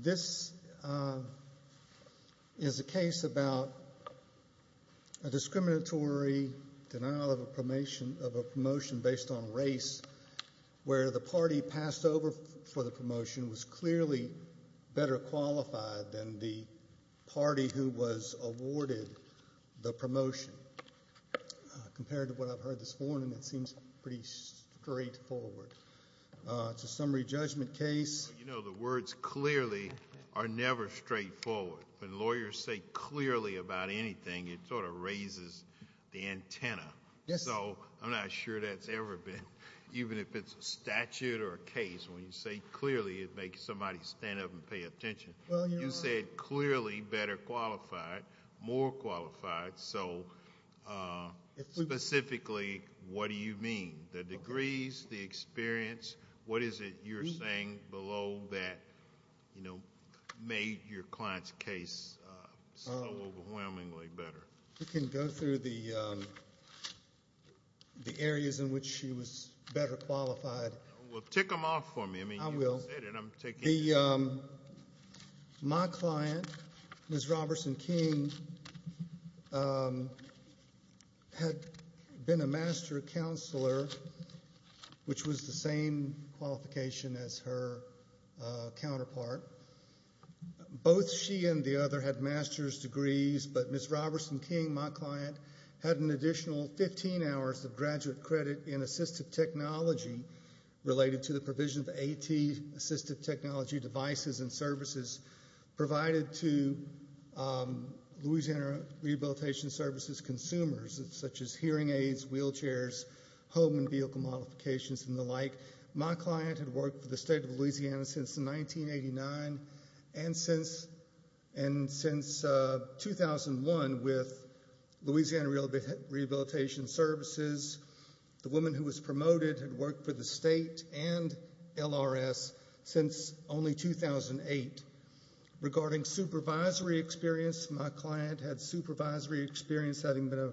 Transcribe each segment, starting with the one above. This is a case about a discriminatory denial of a promotion based on race where the party passed over for the promotion was clearly better qualified than the party who was awarded the promotion. Compared to what I've heard this morning, it seems pretty straight forward. It's a summary judgment case. You know, the words clearly are never straight forward. When lawyers say clearly about anything, it sort of raises the antenna. So I'm not sure that's ever been, even if it's a statute or a case, when you say clearly, it makes somebody stand up and pay attention. You said clearly better qualified, more qualified. So specifically, what do you mean? The degrees, the experience, what is it you're saying below that made your client's case so overwhelmingly better? We can go through the areas in which she was better qualified. Well, tick them off for me. I will. My client, Ms. Roberson-King, had been a master counselor, which was the same qualification as her counterpart. Both she and the other had master's degrees, but Ms. Roberson-King, my client, had an additional 15 hours of graduate credit in assistive technology related to the provision of AT, assistive technology devices and services, provided to Louisiana Rehabilitation Services consumers, such as hearing aids, wheelchairs, home and vehicle modifications, and the like. My client had worked for the state of Louisiana since 1989 and since 2001 with Louisiana Rehabilitation Services. The woman who was promoted had worked for the state and LRS since only 2008. Regarding supervisory experience, my client had supervisory experience having been a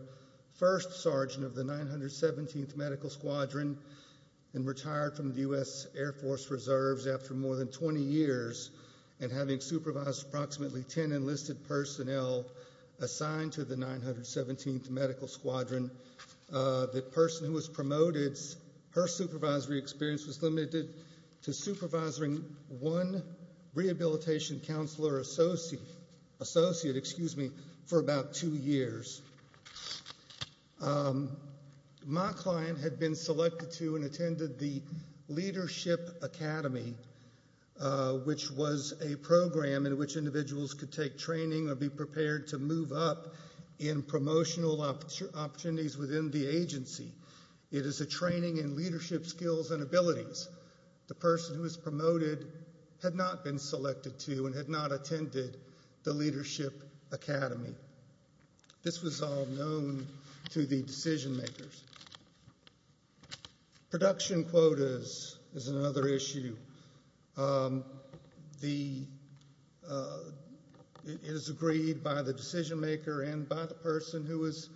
first sergeant of the 917th Medical Squadron and retired from the U.S. Air Force Reserves after more than 20 years and having supervised approximately 10 enlisted personnel assigned to the 917th Medical Squadron. The person who was promoted, her supervisory experience was limited to supervising one rehabilitation counselor associate for about two years. My client had been selected to and attended the Leadership Academy, which was a program in which individuals could take training or be prepared to move up in promotional opportunities within the agency. It is a training in leadership skills and abilities. The person who was promoted had not been selected to and had not attended the Leadership Academy. This was all known decision makers. Production quotas is another issue. It is agreed by the decision maker and by the person who was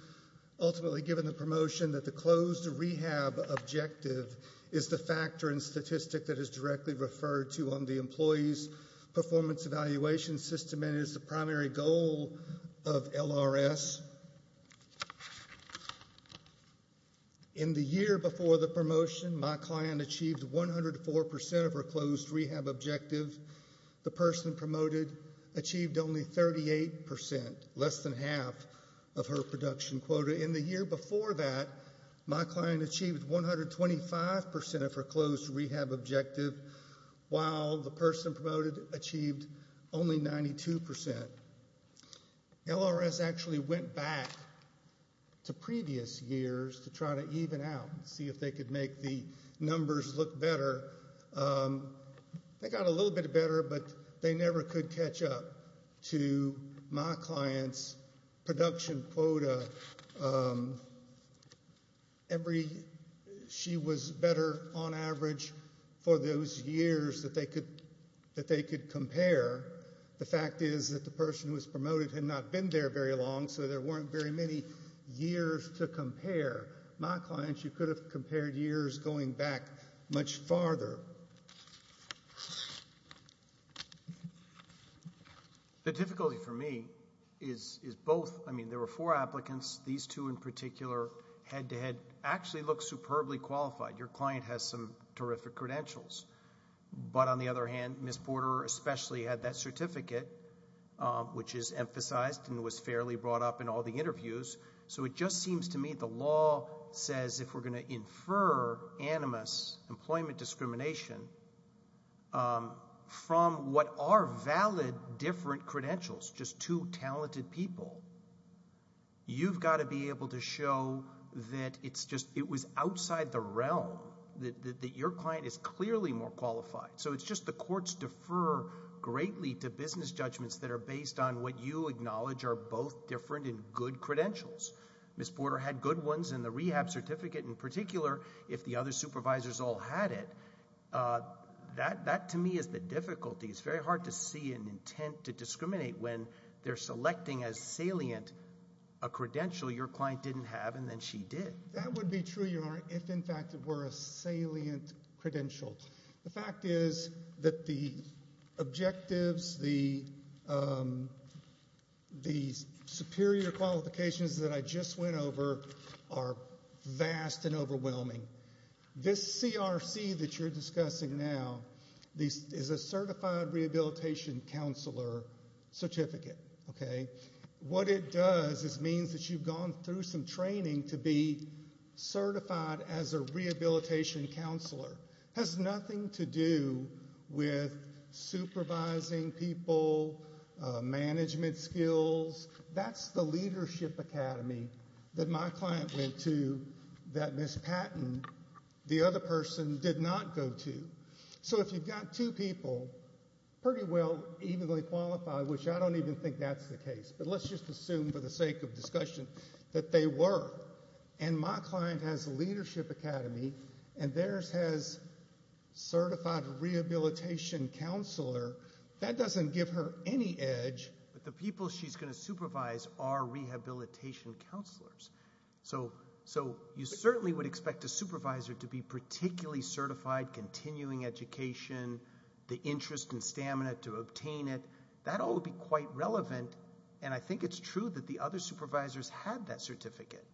ultimately given the promotion that the closed rehab objective is the factor in statistics that is directly referred to on the employee's performance evaluation system and is the primary goal of LRS. In the year before the promotion, my client achieved 104% of her closed rehab objective. The person promoted achieved only 38%, less than half of her production quota. In the year before that, my client achieved 125% of her closed rehab objective, while the person promoted achieved only 92%. LRS actually went back to previous years to try to even out and see if they could make the numbers look better. They got a little bit better, but they never could catch up to my client's production quota. She was better on average for those years that they could compare. The fact is that the person who was promoted had not been there very long, so there weren't very many years to compare. My client, she could have compared years going back much farther. The difficulty for me is both. I mean, there were four applicants. These two in particular head-to-head actually look superbly qualified. Your client has some terrific credentials. But on the other hand, Ms. Porter especially had that certificate, which is emphasized and was fairly brought up in all the interviews. So it just seems to me the law says if we're going to infer animus, employment discrimination, from what are valid different credentials, just two talented people, you've got to be able to show that it was outside the realm, that your client is clearly more qualified. So it's just the courts defer greatly to business judgments that are based on what you acknowledge are both different and good credentials. Ms. Porter had good ones, and the rehab certificate in particular, if the other supervisors all had it, that to me is the difficulty. It's very hard to see an intent to discriminate when they're selecting as salient a credential your client didn't have and then she did. That would be true, Your Honor, if in fact it were a salient credential. The fact is that the objectives, the superior qualifications that I just went over are vast and overwhelming. This CRC that you're discussing now is a certified rehabilitation counselor certificate. What it does is it means that you've gone through some training to be certified as a rehabilitation counselor. It has nothing to do with supervising people, management skills. That's the leadership academy that my client went to that Ms. Patton, the other person, did not go to. So if you've got two people pretty well, evenly qualified, which I don't even think that's the case, but let's just assume for the sake of discussion that they were, and my client has a leadership academy and theirs has certified rehabilitation counselor, that doesn't give her any edge, but the people she's going to supervise are rehabilitation counselors. So you certainly would expect a supervisor to be particularly certified, continuing education, the interest and stamina to obtain it. That all would be quite relevant, and I think it's true that the other supervisors had that certificate.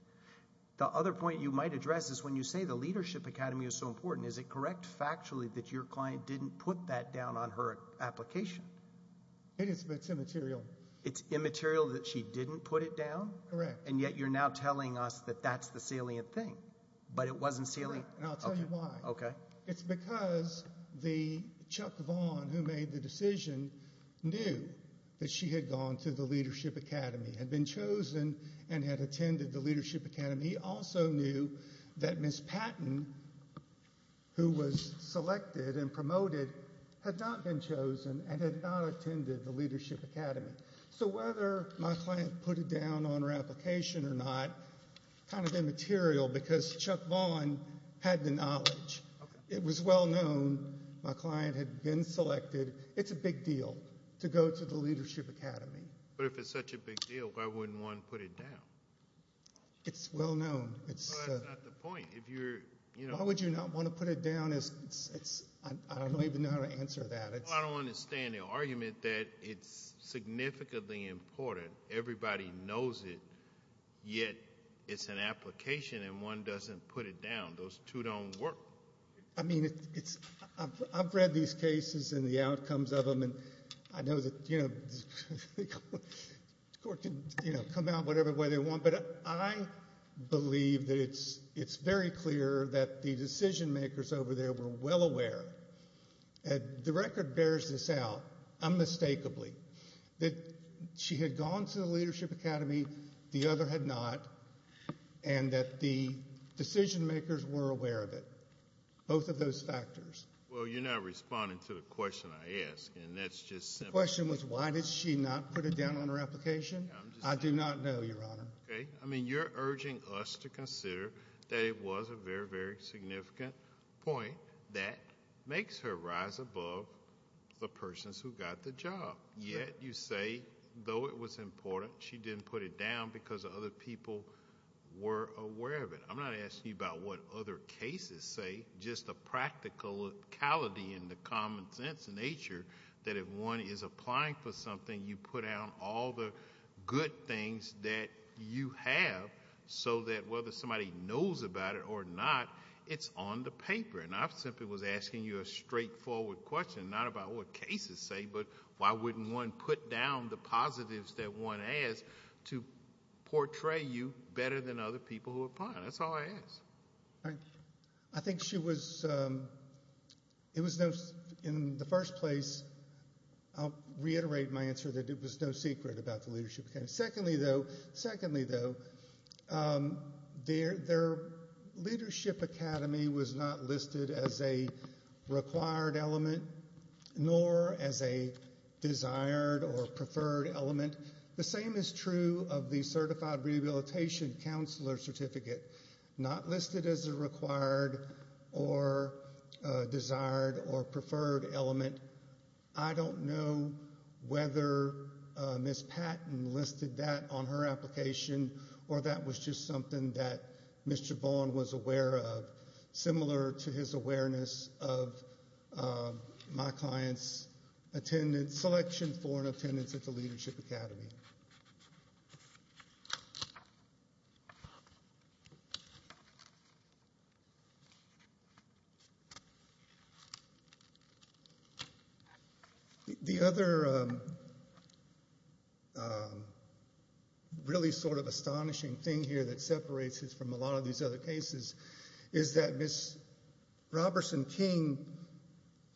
The other point you might address is when you say the leadership academy is so important, is it correct factually that your client didn't put that down on her application? It is, but it's immaterial. It's immaterial that she didn't put it down? Correct. And yet you're now telling us that that's the salient thing, but it wasn't salient? Correct, and I'll tell you why. Okay. It's because the Chuck Vaughn who made the decision knew that she had gone to the leadership academy, had been chosen and had attended the leadership academy. He also knew that was selected and promoted had not been chosen and had not attended the leadership academy. So whether my client put it down on her application or not, kind of immaterial because Chuck Vaughn had the knowledge. It was well known my client had been selected. It's a big deal to go to the leadership academy. But if it's such a big deal, why wouldn't one put it down? It's well known. Why would you not want to put it down? I don't even know how to answer that. Well, I don't understand the argument that it's significantly important. Everybody knows it, yet it's an application and one doesn't put it down. Those two don't work. I mean, I've read these cases and the outcomes of them, and I know that the court can come out whatever way they want, but I believe that it's very clear that the decision makers over there were well aware, and the record bears this out unmistakably, that she had gone to the leadership academy, the other had not, and that the decision makers were aware of it, both of those factors. Well, you're not responding to the question I asked, and that's just simple. The question was why did she not put it down on her application? I do not know, Your Honor. Okay. I mean, you're urging us to consider that it was a very, very significant point that makes her rise above the persons who got the job, yet you say, though it was important, she didn't put it down because other people were aware of it. I'm not asking you about what other cases say, just the practicality and the common sense nature that if one is applying for something, you put out all the good things that you have so that whether somebody knows about it or not, it's on the paper. And I simply was asking you a straightforward question, not about what cases say, but why wouldn't one put down the positives that one has to portray you better than other people who apply? That's all I ask. All right. I think she was, it was in the first place, I'll reiterate my answer that it was no secret about the Leadership Academy. Secondly, though, their Leadership Academy was not listed as a required element, nor as a desired or preferred element. And the same is true of the Certified Rehabilitation Counselor Certificate, not listed as a required or desired or preferred element. I don't know whether Ms. Patton listed that on her application or that was just something that Mr. Vaughan was aware of, similar to his awareness of my client's selection for an attendance at the Leadership Academy. The other really sort of astonishing thing here that separates us from a lot of these other cases is that Ms. Robertson King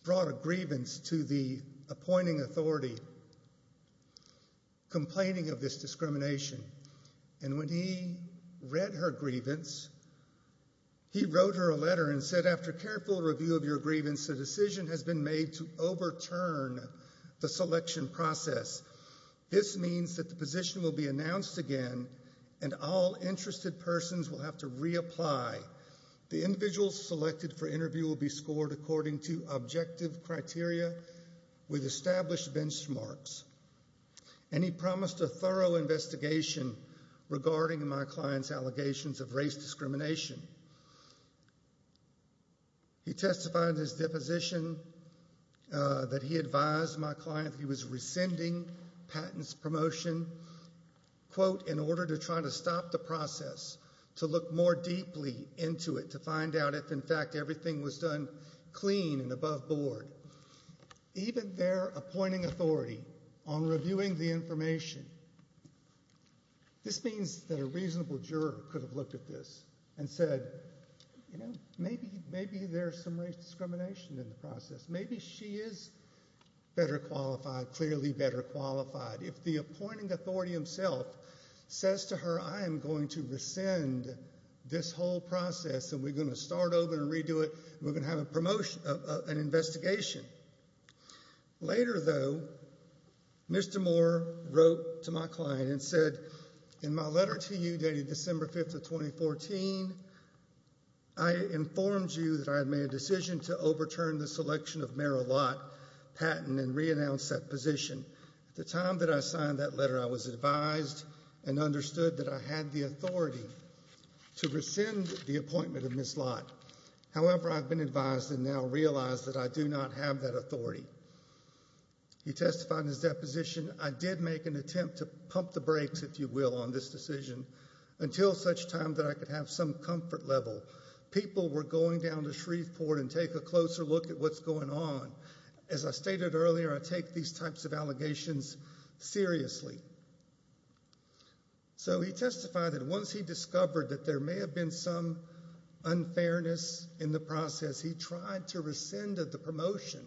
brought a grievance to the appointing authority complaining of this discrimination. And when he read her grievance, he wrote her a letter and said, after careful review of your grievance, a decision has been made to overturn the selection process. This means that the position will be announced again and all interested persons will have to reapply. The individuals selected for interview will be scored according to objective criteria with established benchmarks. And he promised a thorough investigation regarding my client's allegations of race discrimination. He testified in his deposition that he advised my client that he was rescinding Patton's to look more deeply into it to find out if, in fact, everything was done clean and above board. Even their appointing authority on reviewing the information, this means that a reasonable juror could have looked at this and said, you know, maybe there's some race discrimination in the process. Maybe she is better qualified, clearly better qualified. If the appointing authority himself says to her, I am going to rescind this whole process and we're going to start over and redo it, we're going to have an investigation. Later, though, Mr. Moore wrote to my client and said, in my letter to you dated December 5th of 2014, I informed you that I had made a decision to overturn the selection of Merrill Lott Patton and reannounce that position. At the time that I signed that letter, I was advised and understood that I had the authority to rescind the appointment of Ms. Lott. However, I've been advised and now realize that I do not have that authority. He testified in his deposition, I did make an attempt to pump the brakes, if you will, on this decision until such time that I could have some comfort level. People were going down to Shreveport and take a closer look at what's going on. As I stated earlier, I take these types of allegations seriously. So he testified that once he discovered that there may have been some unfairness in the process, he tried to rescind the promotion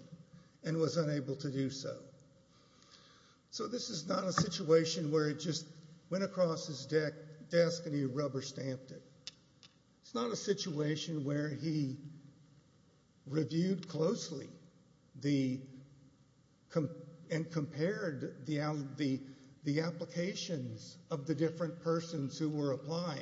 and was unable to do so. So this is not a situation where it just went across his desk and he rubber stamped it. It's not a situation where he reviewed closely and compared the applications of the different persons who were applying.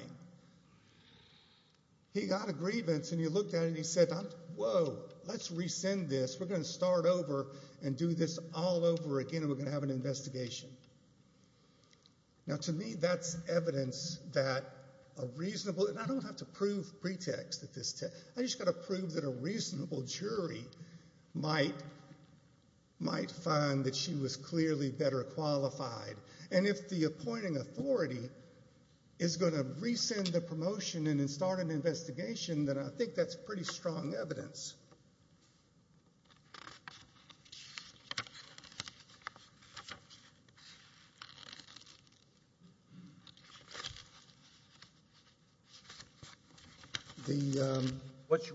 He got a grievance and he looked at it and he said, whoa, let's rescind this. We're going to start over and do this all over again and we're going to have an investigation. Now to me that's evidence that a reasonable, and I don't have to prove pretext at this test, I just got to prove that a reasonable jury might find that she was clearly better qualified. And if the appointing authority is going to rescind the promotion and start an investigation, then I think that's pretty strong evidence.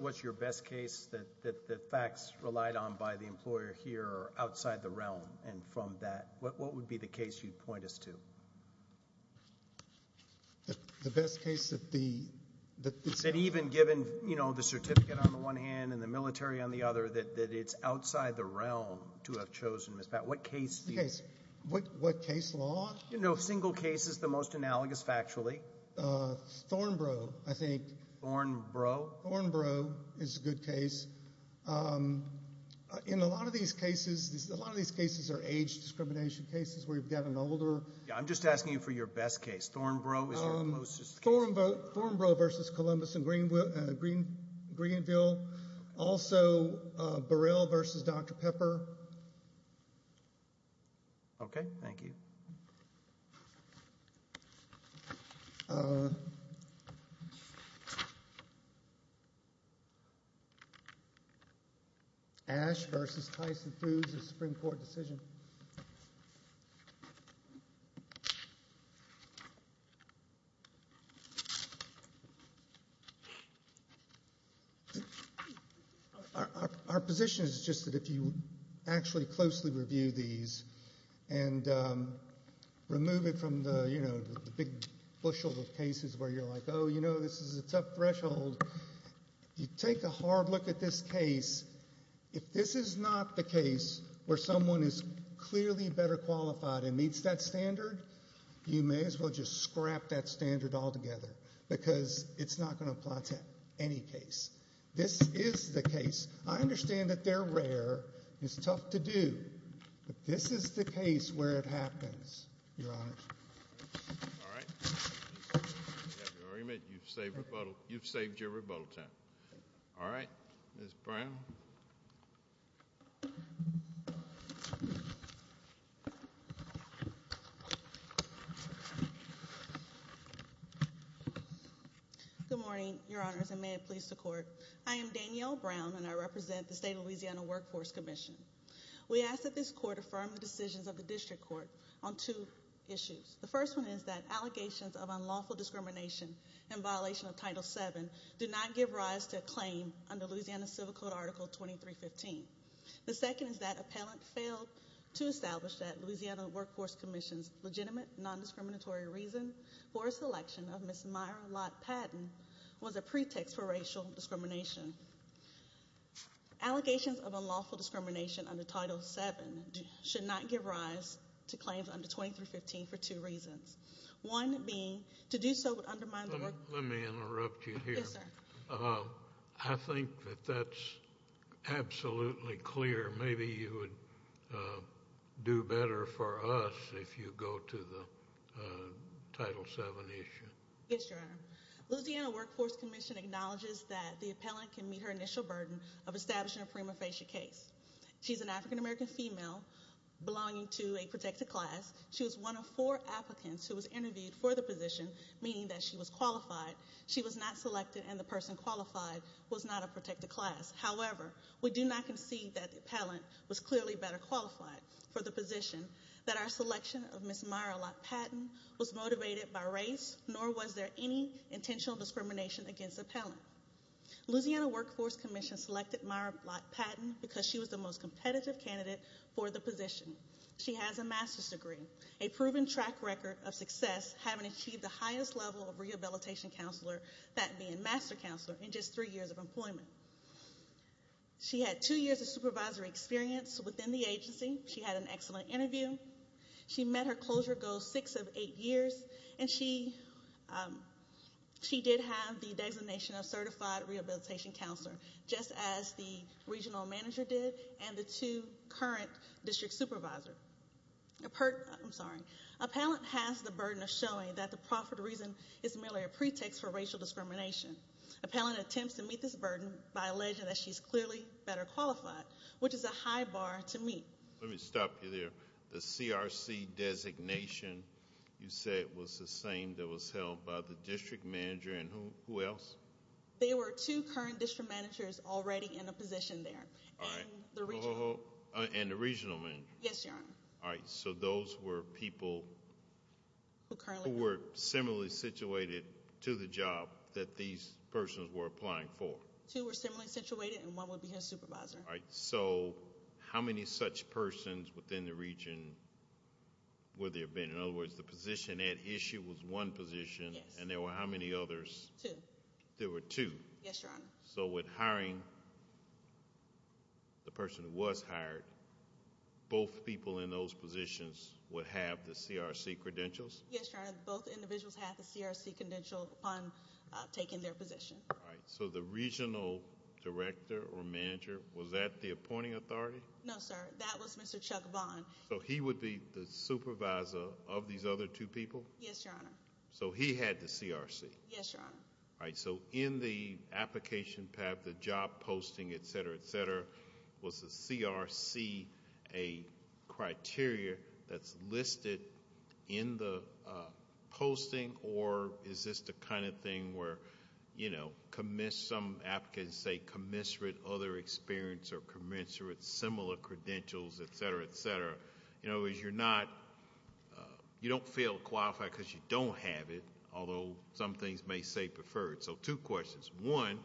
What's your best case that the facts relied on by the employer here are outside the realm? And from that, what would be the case you'd point us to? The best case that the... That even given, you know, the certificate on the one hand and the military on the other, that it's outside the realm to have chosen Ms. Pat. What case do you... What case law? You know, single cases, the most analogous factually. Thornbrough, I think. Thornbrough? Thornbrough is a good case. In a lot of these cases, a lot of these cases are age discrimination cases where you've got an older... Yeah, I'm just asking you for your best case. Thornbrough is your closest case. Thornbrough versus Columbus and Greenville. Also, Burrell versus Dr. Pepper. Okay, thank you. Ash versus Tyson Foods, a Supreme Court decision. Our position is just that if you actually closely review these and remove it from the, you know, the big bushel of cases where you're like, oh, you know, this is a tough threshold, you take a hard look at this case. If this is not the case where someone is clearly better qualified and meets that standard, you may as well just scrap that standard altogether because it's not going to apply to any case. This is the case. I understand that they're rare. It's tough to do. But this is the case where it happens, Your Honor. All right. You've saved your rebuttal time. All right, Ms. Brown. Good morning, Your Honors, and may it please the Court. I am Danielle Brown, and I represent the State of Louisiana Workforce Commission. We ask that this Court affirm the decisions of the District Court on two issues. The first one is that allegations of unlawful discrimination in violation of Title VII do not give rise to a claim under Louisiana Civil Code Article 2315. The second is that appellant failed to establish that Louisiana Workforce Commission's legitimate non-discriminatory reason for a selection of Ms. Myra Lott Patton was a pretext for racial discrimination. Allegations of unlawful discrimination under Title VII should not give rise to claims under 2315 for two reasons, one being to do so would undermine the work force. I think that that's absolutely clear. Maybe you would do better for us if you go to the Title VII issue. Yes, Your Honor. Louisiana Workforce Commission acknowledges that the appellant can meet her initial burden of establishing a prima facie case. She's an African-American female belonging to a protected class. She was one of four applicants who was interviewed for the position, meaning that she was qualified. She was not selected, and the person qualified was not a protected class. However, we do not concede that the appellant was clearly better qualified for the position, that our selection of Ms. Myra Lott Patton was motivated by race, nor was there any intentional discrimination against the appellant. Louisiana Workforce Commission selected Myra Lott Patton because she was the most competitive candidate for the position. She has a master's degree, a proven track record of success, having achieved the highest level of rehabilitation counselor, that being master counselor, in just three years of employment. She had two years of supervisory experience within the agency. She had an excellent interview. She met her closure goal six of eight years, and she did have the designation of certified rehabilitation counselor, just as the regional manager did and the two current district supervisors. I'm sorry. Appellant has the burden of showing that the profit reason is merely a pretext for racial discrimination. Appellant attempts to meet this burden by alleging that she's clearly better qualified, which is a high bar to meet. Let me stop you there. The CRC designation you said was the same that was held by the district manager and who else? They were two current district managers already in a position there. And the regional manager? Yes, Your Honor. All right. So those were people who were similarly situated to the job that these persons were applying for. Two were similarly situated, and one would be her supervisor. All right. So how many such persons within the region would there have been? In other words, the position at issue was one position, and there were how many others? Two. There were two. Yes, Your Honor. So with hiring the person who was hired, both people in those positions would have the CRC credentials? Yes, Your Honor. Both individuals have the CRC credential upon taking their position. All right. So the regional director or manager, was that the appointing authority? No, sir. That was Mr. Chuck Vaughn. So he would be the supervisor of these other two people? Yes, Your Honor. So he had the CRC? Yes, Your Honor. All right. So in the application path, the job posting, et cetera, et cetera, was the CRC a criteria that's listed in the posting, or is this the kind of thing where, you know, some applicants say commensurate other experience or commensurate similar credentials, et cetera, et cetera? In other words, you don't fail to qualify because you don't have it, although some things may say preferred. So two questions. One,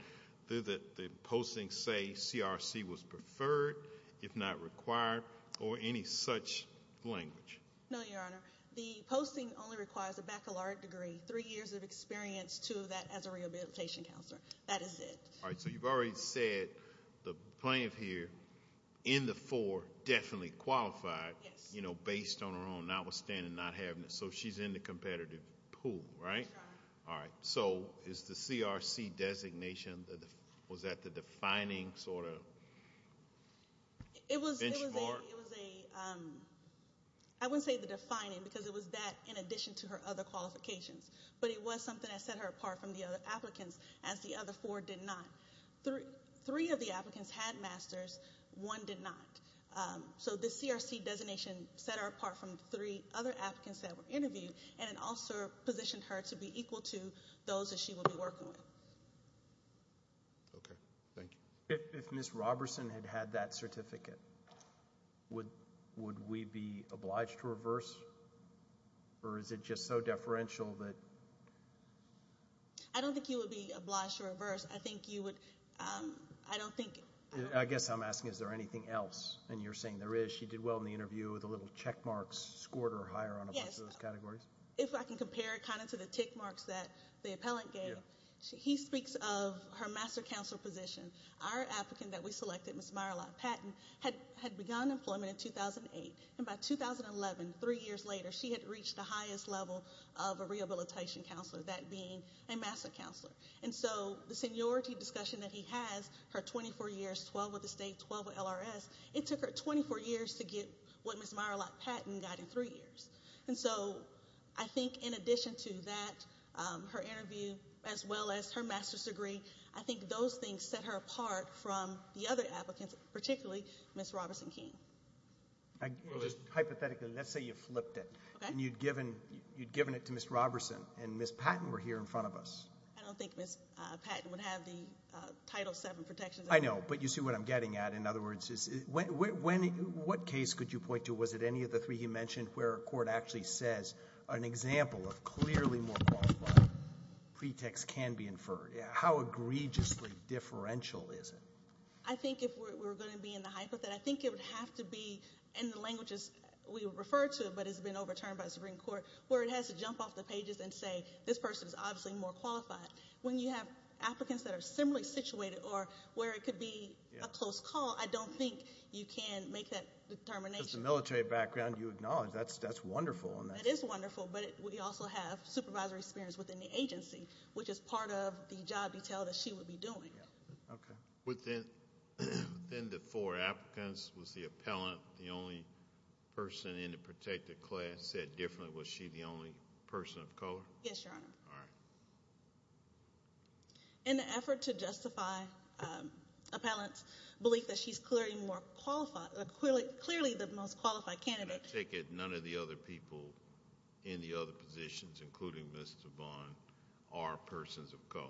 did the posting say CRC was preferred, if not required, or any such language? No, Your Honor. The posting only requires a baccalaureate degree, three years of experience, two of that as a rehabilitation counselor. That is it. All right. So you've already said the plaintiff here in the four definitely qualified, you know, based on her own notwithstanding not having it. So she's in the competitive pool, right? That's right. All right. So is the CRC designation, was that the defining sort of benchmark? It was a ‑‑ I wouldn't say the defining because it was that in addition to her other qualifications, but it was something that set her apart from the other applicants, as the other four did not. Three of the applicants had masters, one did not. So the CRC designation set her apart from the three other applicants that were interviewed, and it also positioned her to be equal to those that she would be working with. Okay. Thank you. If Ms. Roberson had had that certificate, would we be obliged to reverse, or is it just so deferential that ‑‑ I don't think you would be obliged to reverse. I think you would ‑‑ I don't think ‑‑ I guess I'm asking is there anything else, and you're saying there is. She did well in the interview with a little check mark, scored her higher on a bunch of those categories. Yes. If I can compare it kind of to the tick marks that the appellant gave, he speaks of her master counselor position. Our applicant that we selected, Ms. Myerlot Patton, had begun employment in 2008, and by 2011, three years later, she had reached the highest level of a rehabilitation counselor, that being a master counselor. And so the seniority discussion that he has, her 24 years, 12 with the state, 12 with LRS, it took her 24 years to get what Ms. Myerlot Patton got in three years. And so I think in addition to that, her interview as well as her master's degree, I think those things set her apart from the other applicants, particularly Ms. Roberson King. Hypothetically, let's say you flipped it. Okay. And you'd given it to Ms. Roberson, and Ms. Patton were here in front of us. I don't think Ms. Patton would have the Title VII protections. I know, but you see what I'm getting at. In other words, what case could you point to? Was it any of the three you mentioned where a court actually says an example of clearly more qualified pretext can be inferred? How egregiously differential is it? I think if we're going to be in the hypothetical, I think it would have to be in the languages we refer to, but it's been overturned by the Supreme Court, where it has to jump off the pages and say this person is obviously more qualified. When you have applicants that are similarly situated or where it could be a close call, I don't think you can make that determination. Just the military background you acknowledge, that's wonderful. It is wonderful, but we also have supervisory experience within the agency, which is part of the job detail that she would be doing. Within the four applicants, was the appellant the only person in the protected class? Said differently, was she the only person of color? Yes, Your Honor. All right. In an effort to justify appellant's belief that she's clearly the most qualified candidate. I take it none of the other people in the other positions, including Ms. DeVon, are persons of color.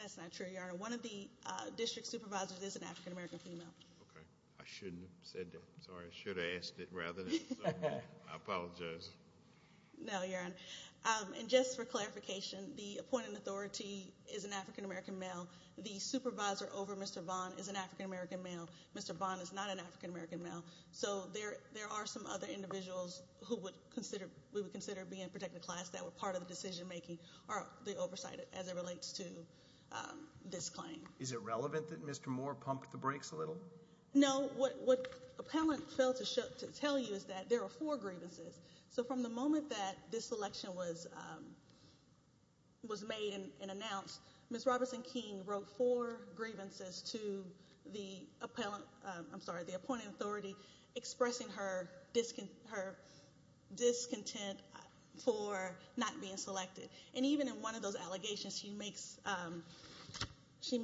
That's not true, Your Honor. One of the district supervisors is an African-American female. Okay. I shouldn't have said that. I'm sorry. I should have asked it rather than say it. I apologize. No, Your Honor. And just for clarification, the appointed authority is an African-American male. The supervisor over Mr. Vaughn is an African-American male. Mr. Vaughn is not an African-American male. So there are some other individuals who we would consider being protected class that were part of the decision-making or the oversight as it relates to this claim. Is it relevant that Mr. Moore pumped the brakes a little? No. What appellant failed to tell you is that there are four grievances. So from the moment that this election was made and announced, Ms. Robertson King wrote four grievances to the appointed authority expressing her discontent for not being selected. And even in one of those allegations, she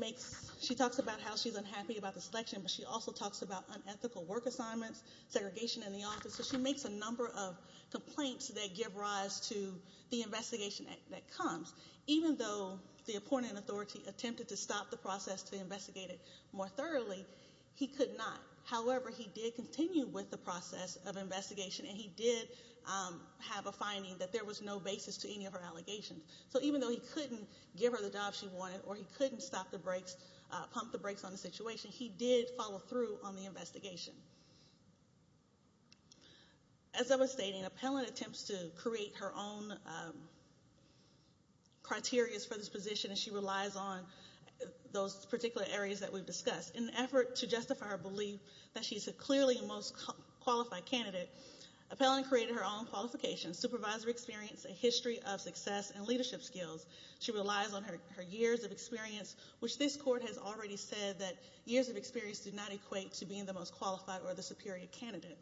talks about how she's unhappy about the selection, but she also talks about unethical work assignments, segregation in the office. So she makes a number of complaints that give rise to the investigation that comes. Even though the appointed authority attempted to stop the process to investigate it more thoroughly, he could not. However, he did continue with the process of investigation, and he did have a finding that there was no basis to any of her allegations. So even though he couldn't give her the job she wanted or he couldn't stop the brakes, pump the brakes on the situation, he did follow through on the investigation. As I was stating, appellant attempts to create her own criteria for this position, and she relies on those particular areas that we've discussed. In an effort to justify her belief that she's clearly the most qualified candidate, appellant created her own qualifications, supervisory experience, a history of success, and leadership skills. She relies on her years of experience, which this court has already said that years of experience do not equate to being the most qualified or the superior candidate.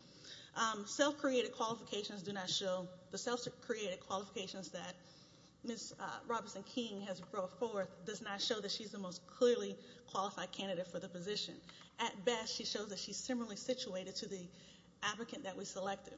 Self-created qualifications do not show the self-created qualifications that Ms. Robertson-King has brought forth does not show that she's the most clearly qualified candidate for the position. At best, she shows that she's similarly situated to the applicant that we selected.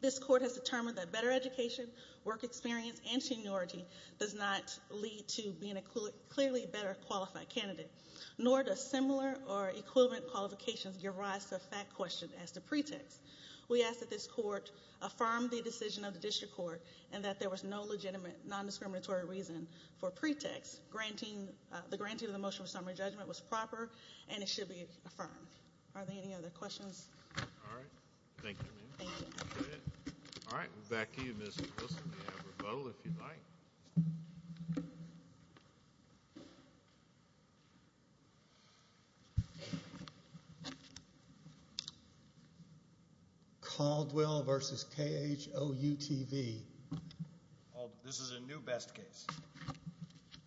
This court has determined that better education, work experience, and seniority does not lead to being a clearly better qualified candidate, nor does similar or equivalent qualifications give rise to a fact question as to pretext. We ask that this court affirm the decision of the district court and that there was no legitimate non-discriminatory reason for pretext. The granting of the motion of summary judgment was proper and it should be affirmed. Are there any other questions? All right. Thank you, ma'am. Thank you. All right. Back to you, Ms. Wilson. You have a vote, if you'd like. Caldwell v. KHOUTV. This is a new best case.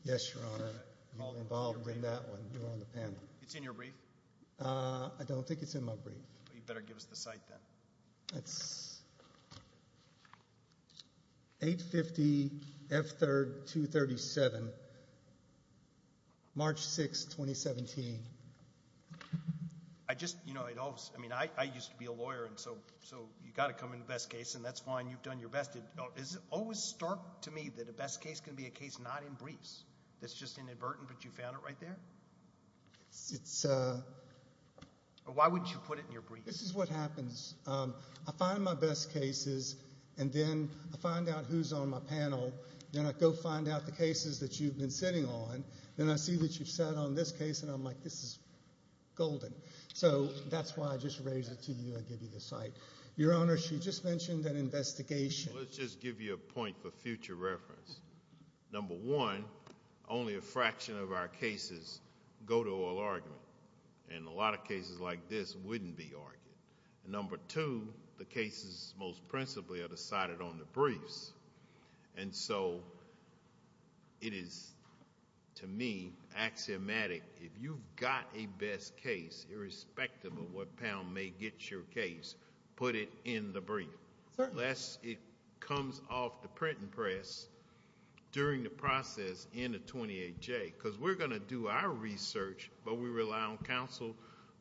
Yes, Your Honor. You were involved in that one. You were on the panel. It's in your brief. I don't think it's in my brief. You'd better give us the cite then. That's 850 F3rd 237, March 6, 2017. I just, you know, I mean, I used to be a lawyer, and so you've got to come in the best case, and that's fine. You've done your best. Is it always stark to me that a best case can be a case not in briefs? That's just inadvertent, but you found it right there? Why would you put it in your briefs? This is what happens. I find my best cases, and then I find out who's on my panel. Then I go find out the cases that you've been sitting on. Then I see that you've sat on this case, and I'm like, this is golden. So that's why I just raised it to you and give you the cite. Your Honor, she just mentioned an investigation. Let's just give you a point for future reference. Number one, only a fraction of our cases go to oral argument, and a lot of cases like this wouldn't be argued. Number two, the cases most principally are decided on the briefs, and so it is, to me, axiomatic. If you've got a best case, irrespective of what panel may get your case, put it in the brief. Unless it comes off the print and press during the process in the 28J, because we're going to do our research, but we rely on counsel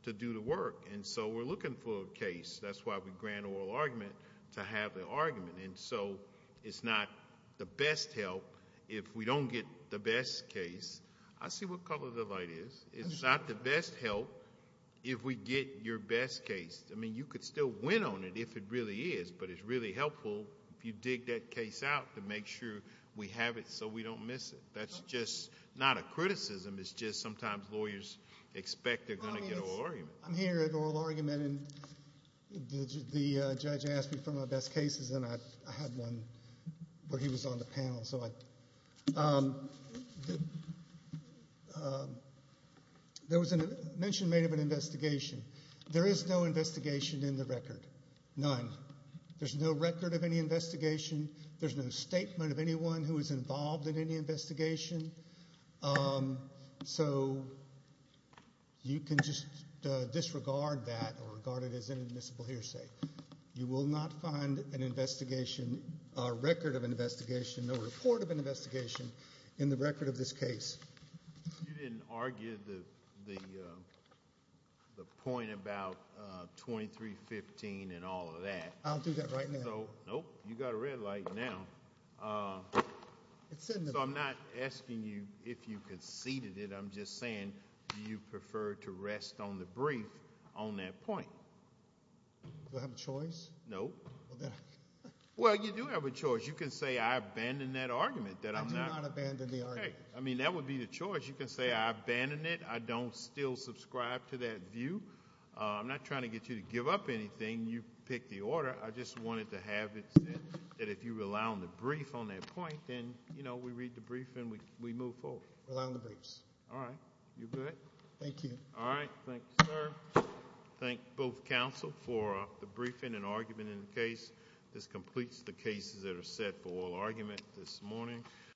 to do the work. So we're looking for a case. That's why we grant oral argument, to have the argument. So it's not the best help if we don't get the best case. I see what color the light is. It's not the best help if we get your best case. I mean, you could still win on it if it really is, but it's really helpful if you dig that case out to make sure we have it so we don't miss it. That's just not a criticism. It's just sometimes lawyers expect they're going to get oral argument. I'm here at oral argument, and the judge asked me for my best cases, and I had one where he was on the panel. There was a mention made of an investigation. There is no investigation in the record. None. There's no record of any investigation. There's no statement of anyone who was involved in any investigation. So you can just disregard that or regard it as inadmissible hearsay. You will not find a record of an investigation, no report of an investigation in the record of this case. You didn't argue the point about 2315 and all of that. I'll do that right now. Nope. You got a red light now. So I'm not asking you if you conceded it. I'm just saying do you prefer to rest on the brief on that point? Do I have a choice? No. Well, you do have a choice. You can say I abandon that argument. I do not abandon the argument. Okay. I mean, that would be the choice. You can say I abandon it. I don't still subscribe to that view. I'm not trying to get you to give up anything. You picked the order. I just wanted to have it said that if you rely on the brief on that point, then, you know, we read the brief and we move forward. Rely on the briefs. All right. You good? Thank you. All right. Thank you, sir. Thank both counsel for the briefing and argument in the case. This completes the cases that are set for oral argument this morning.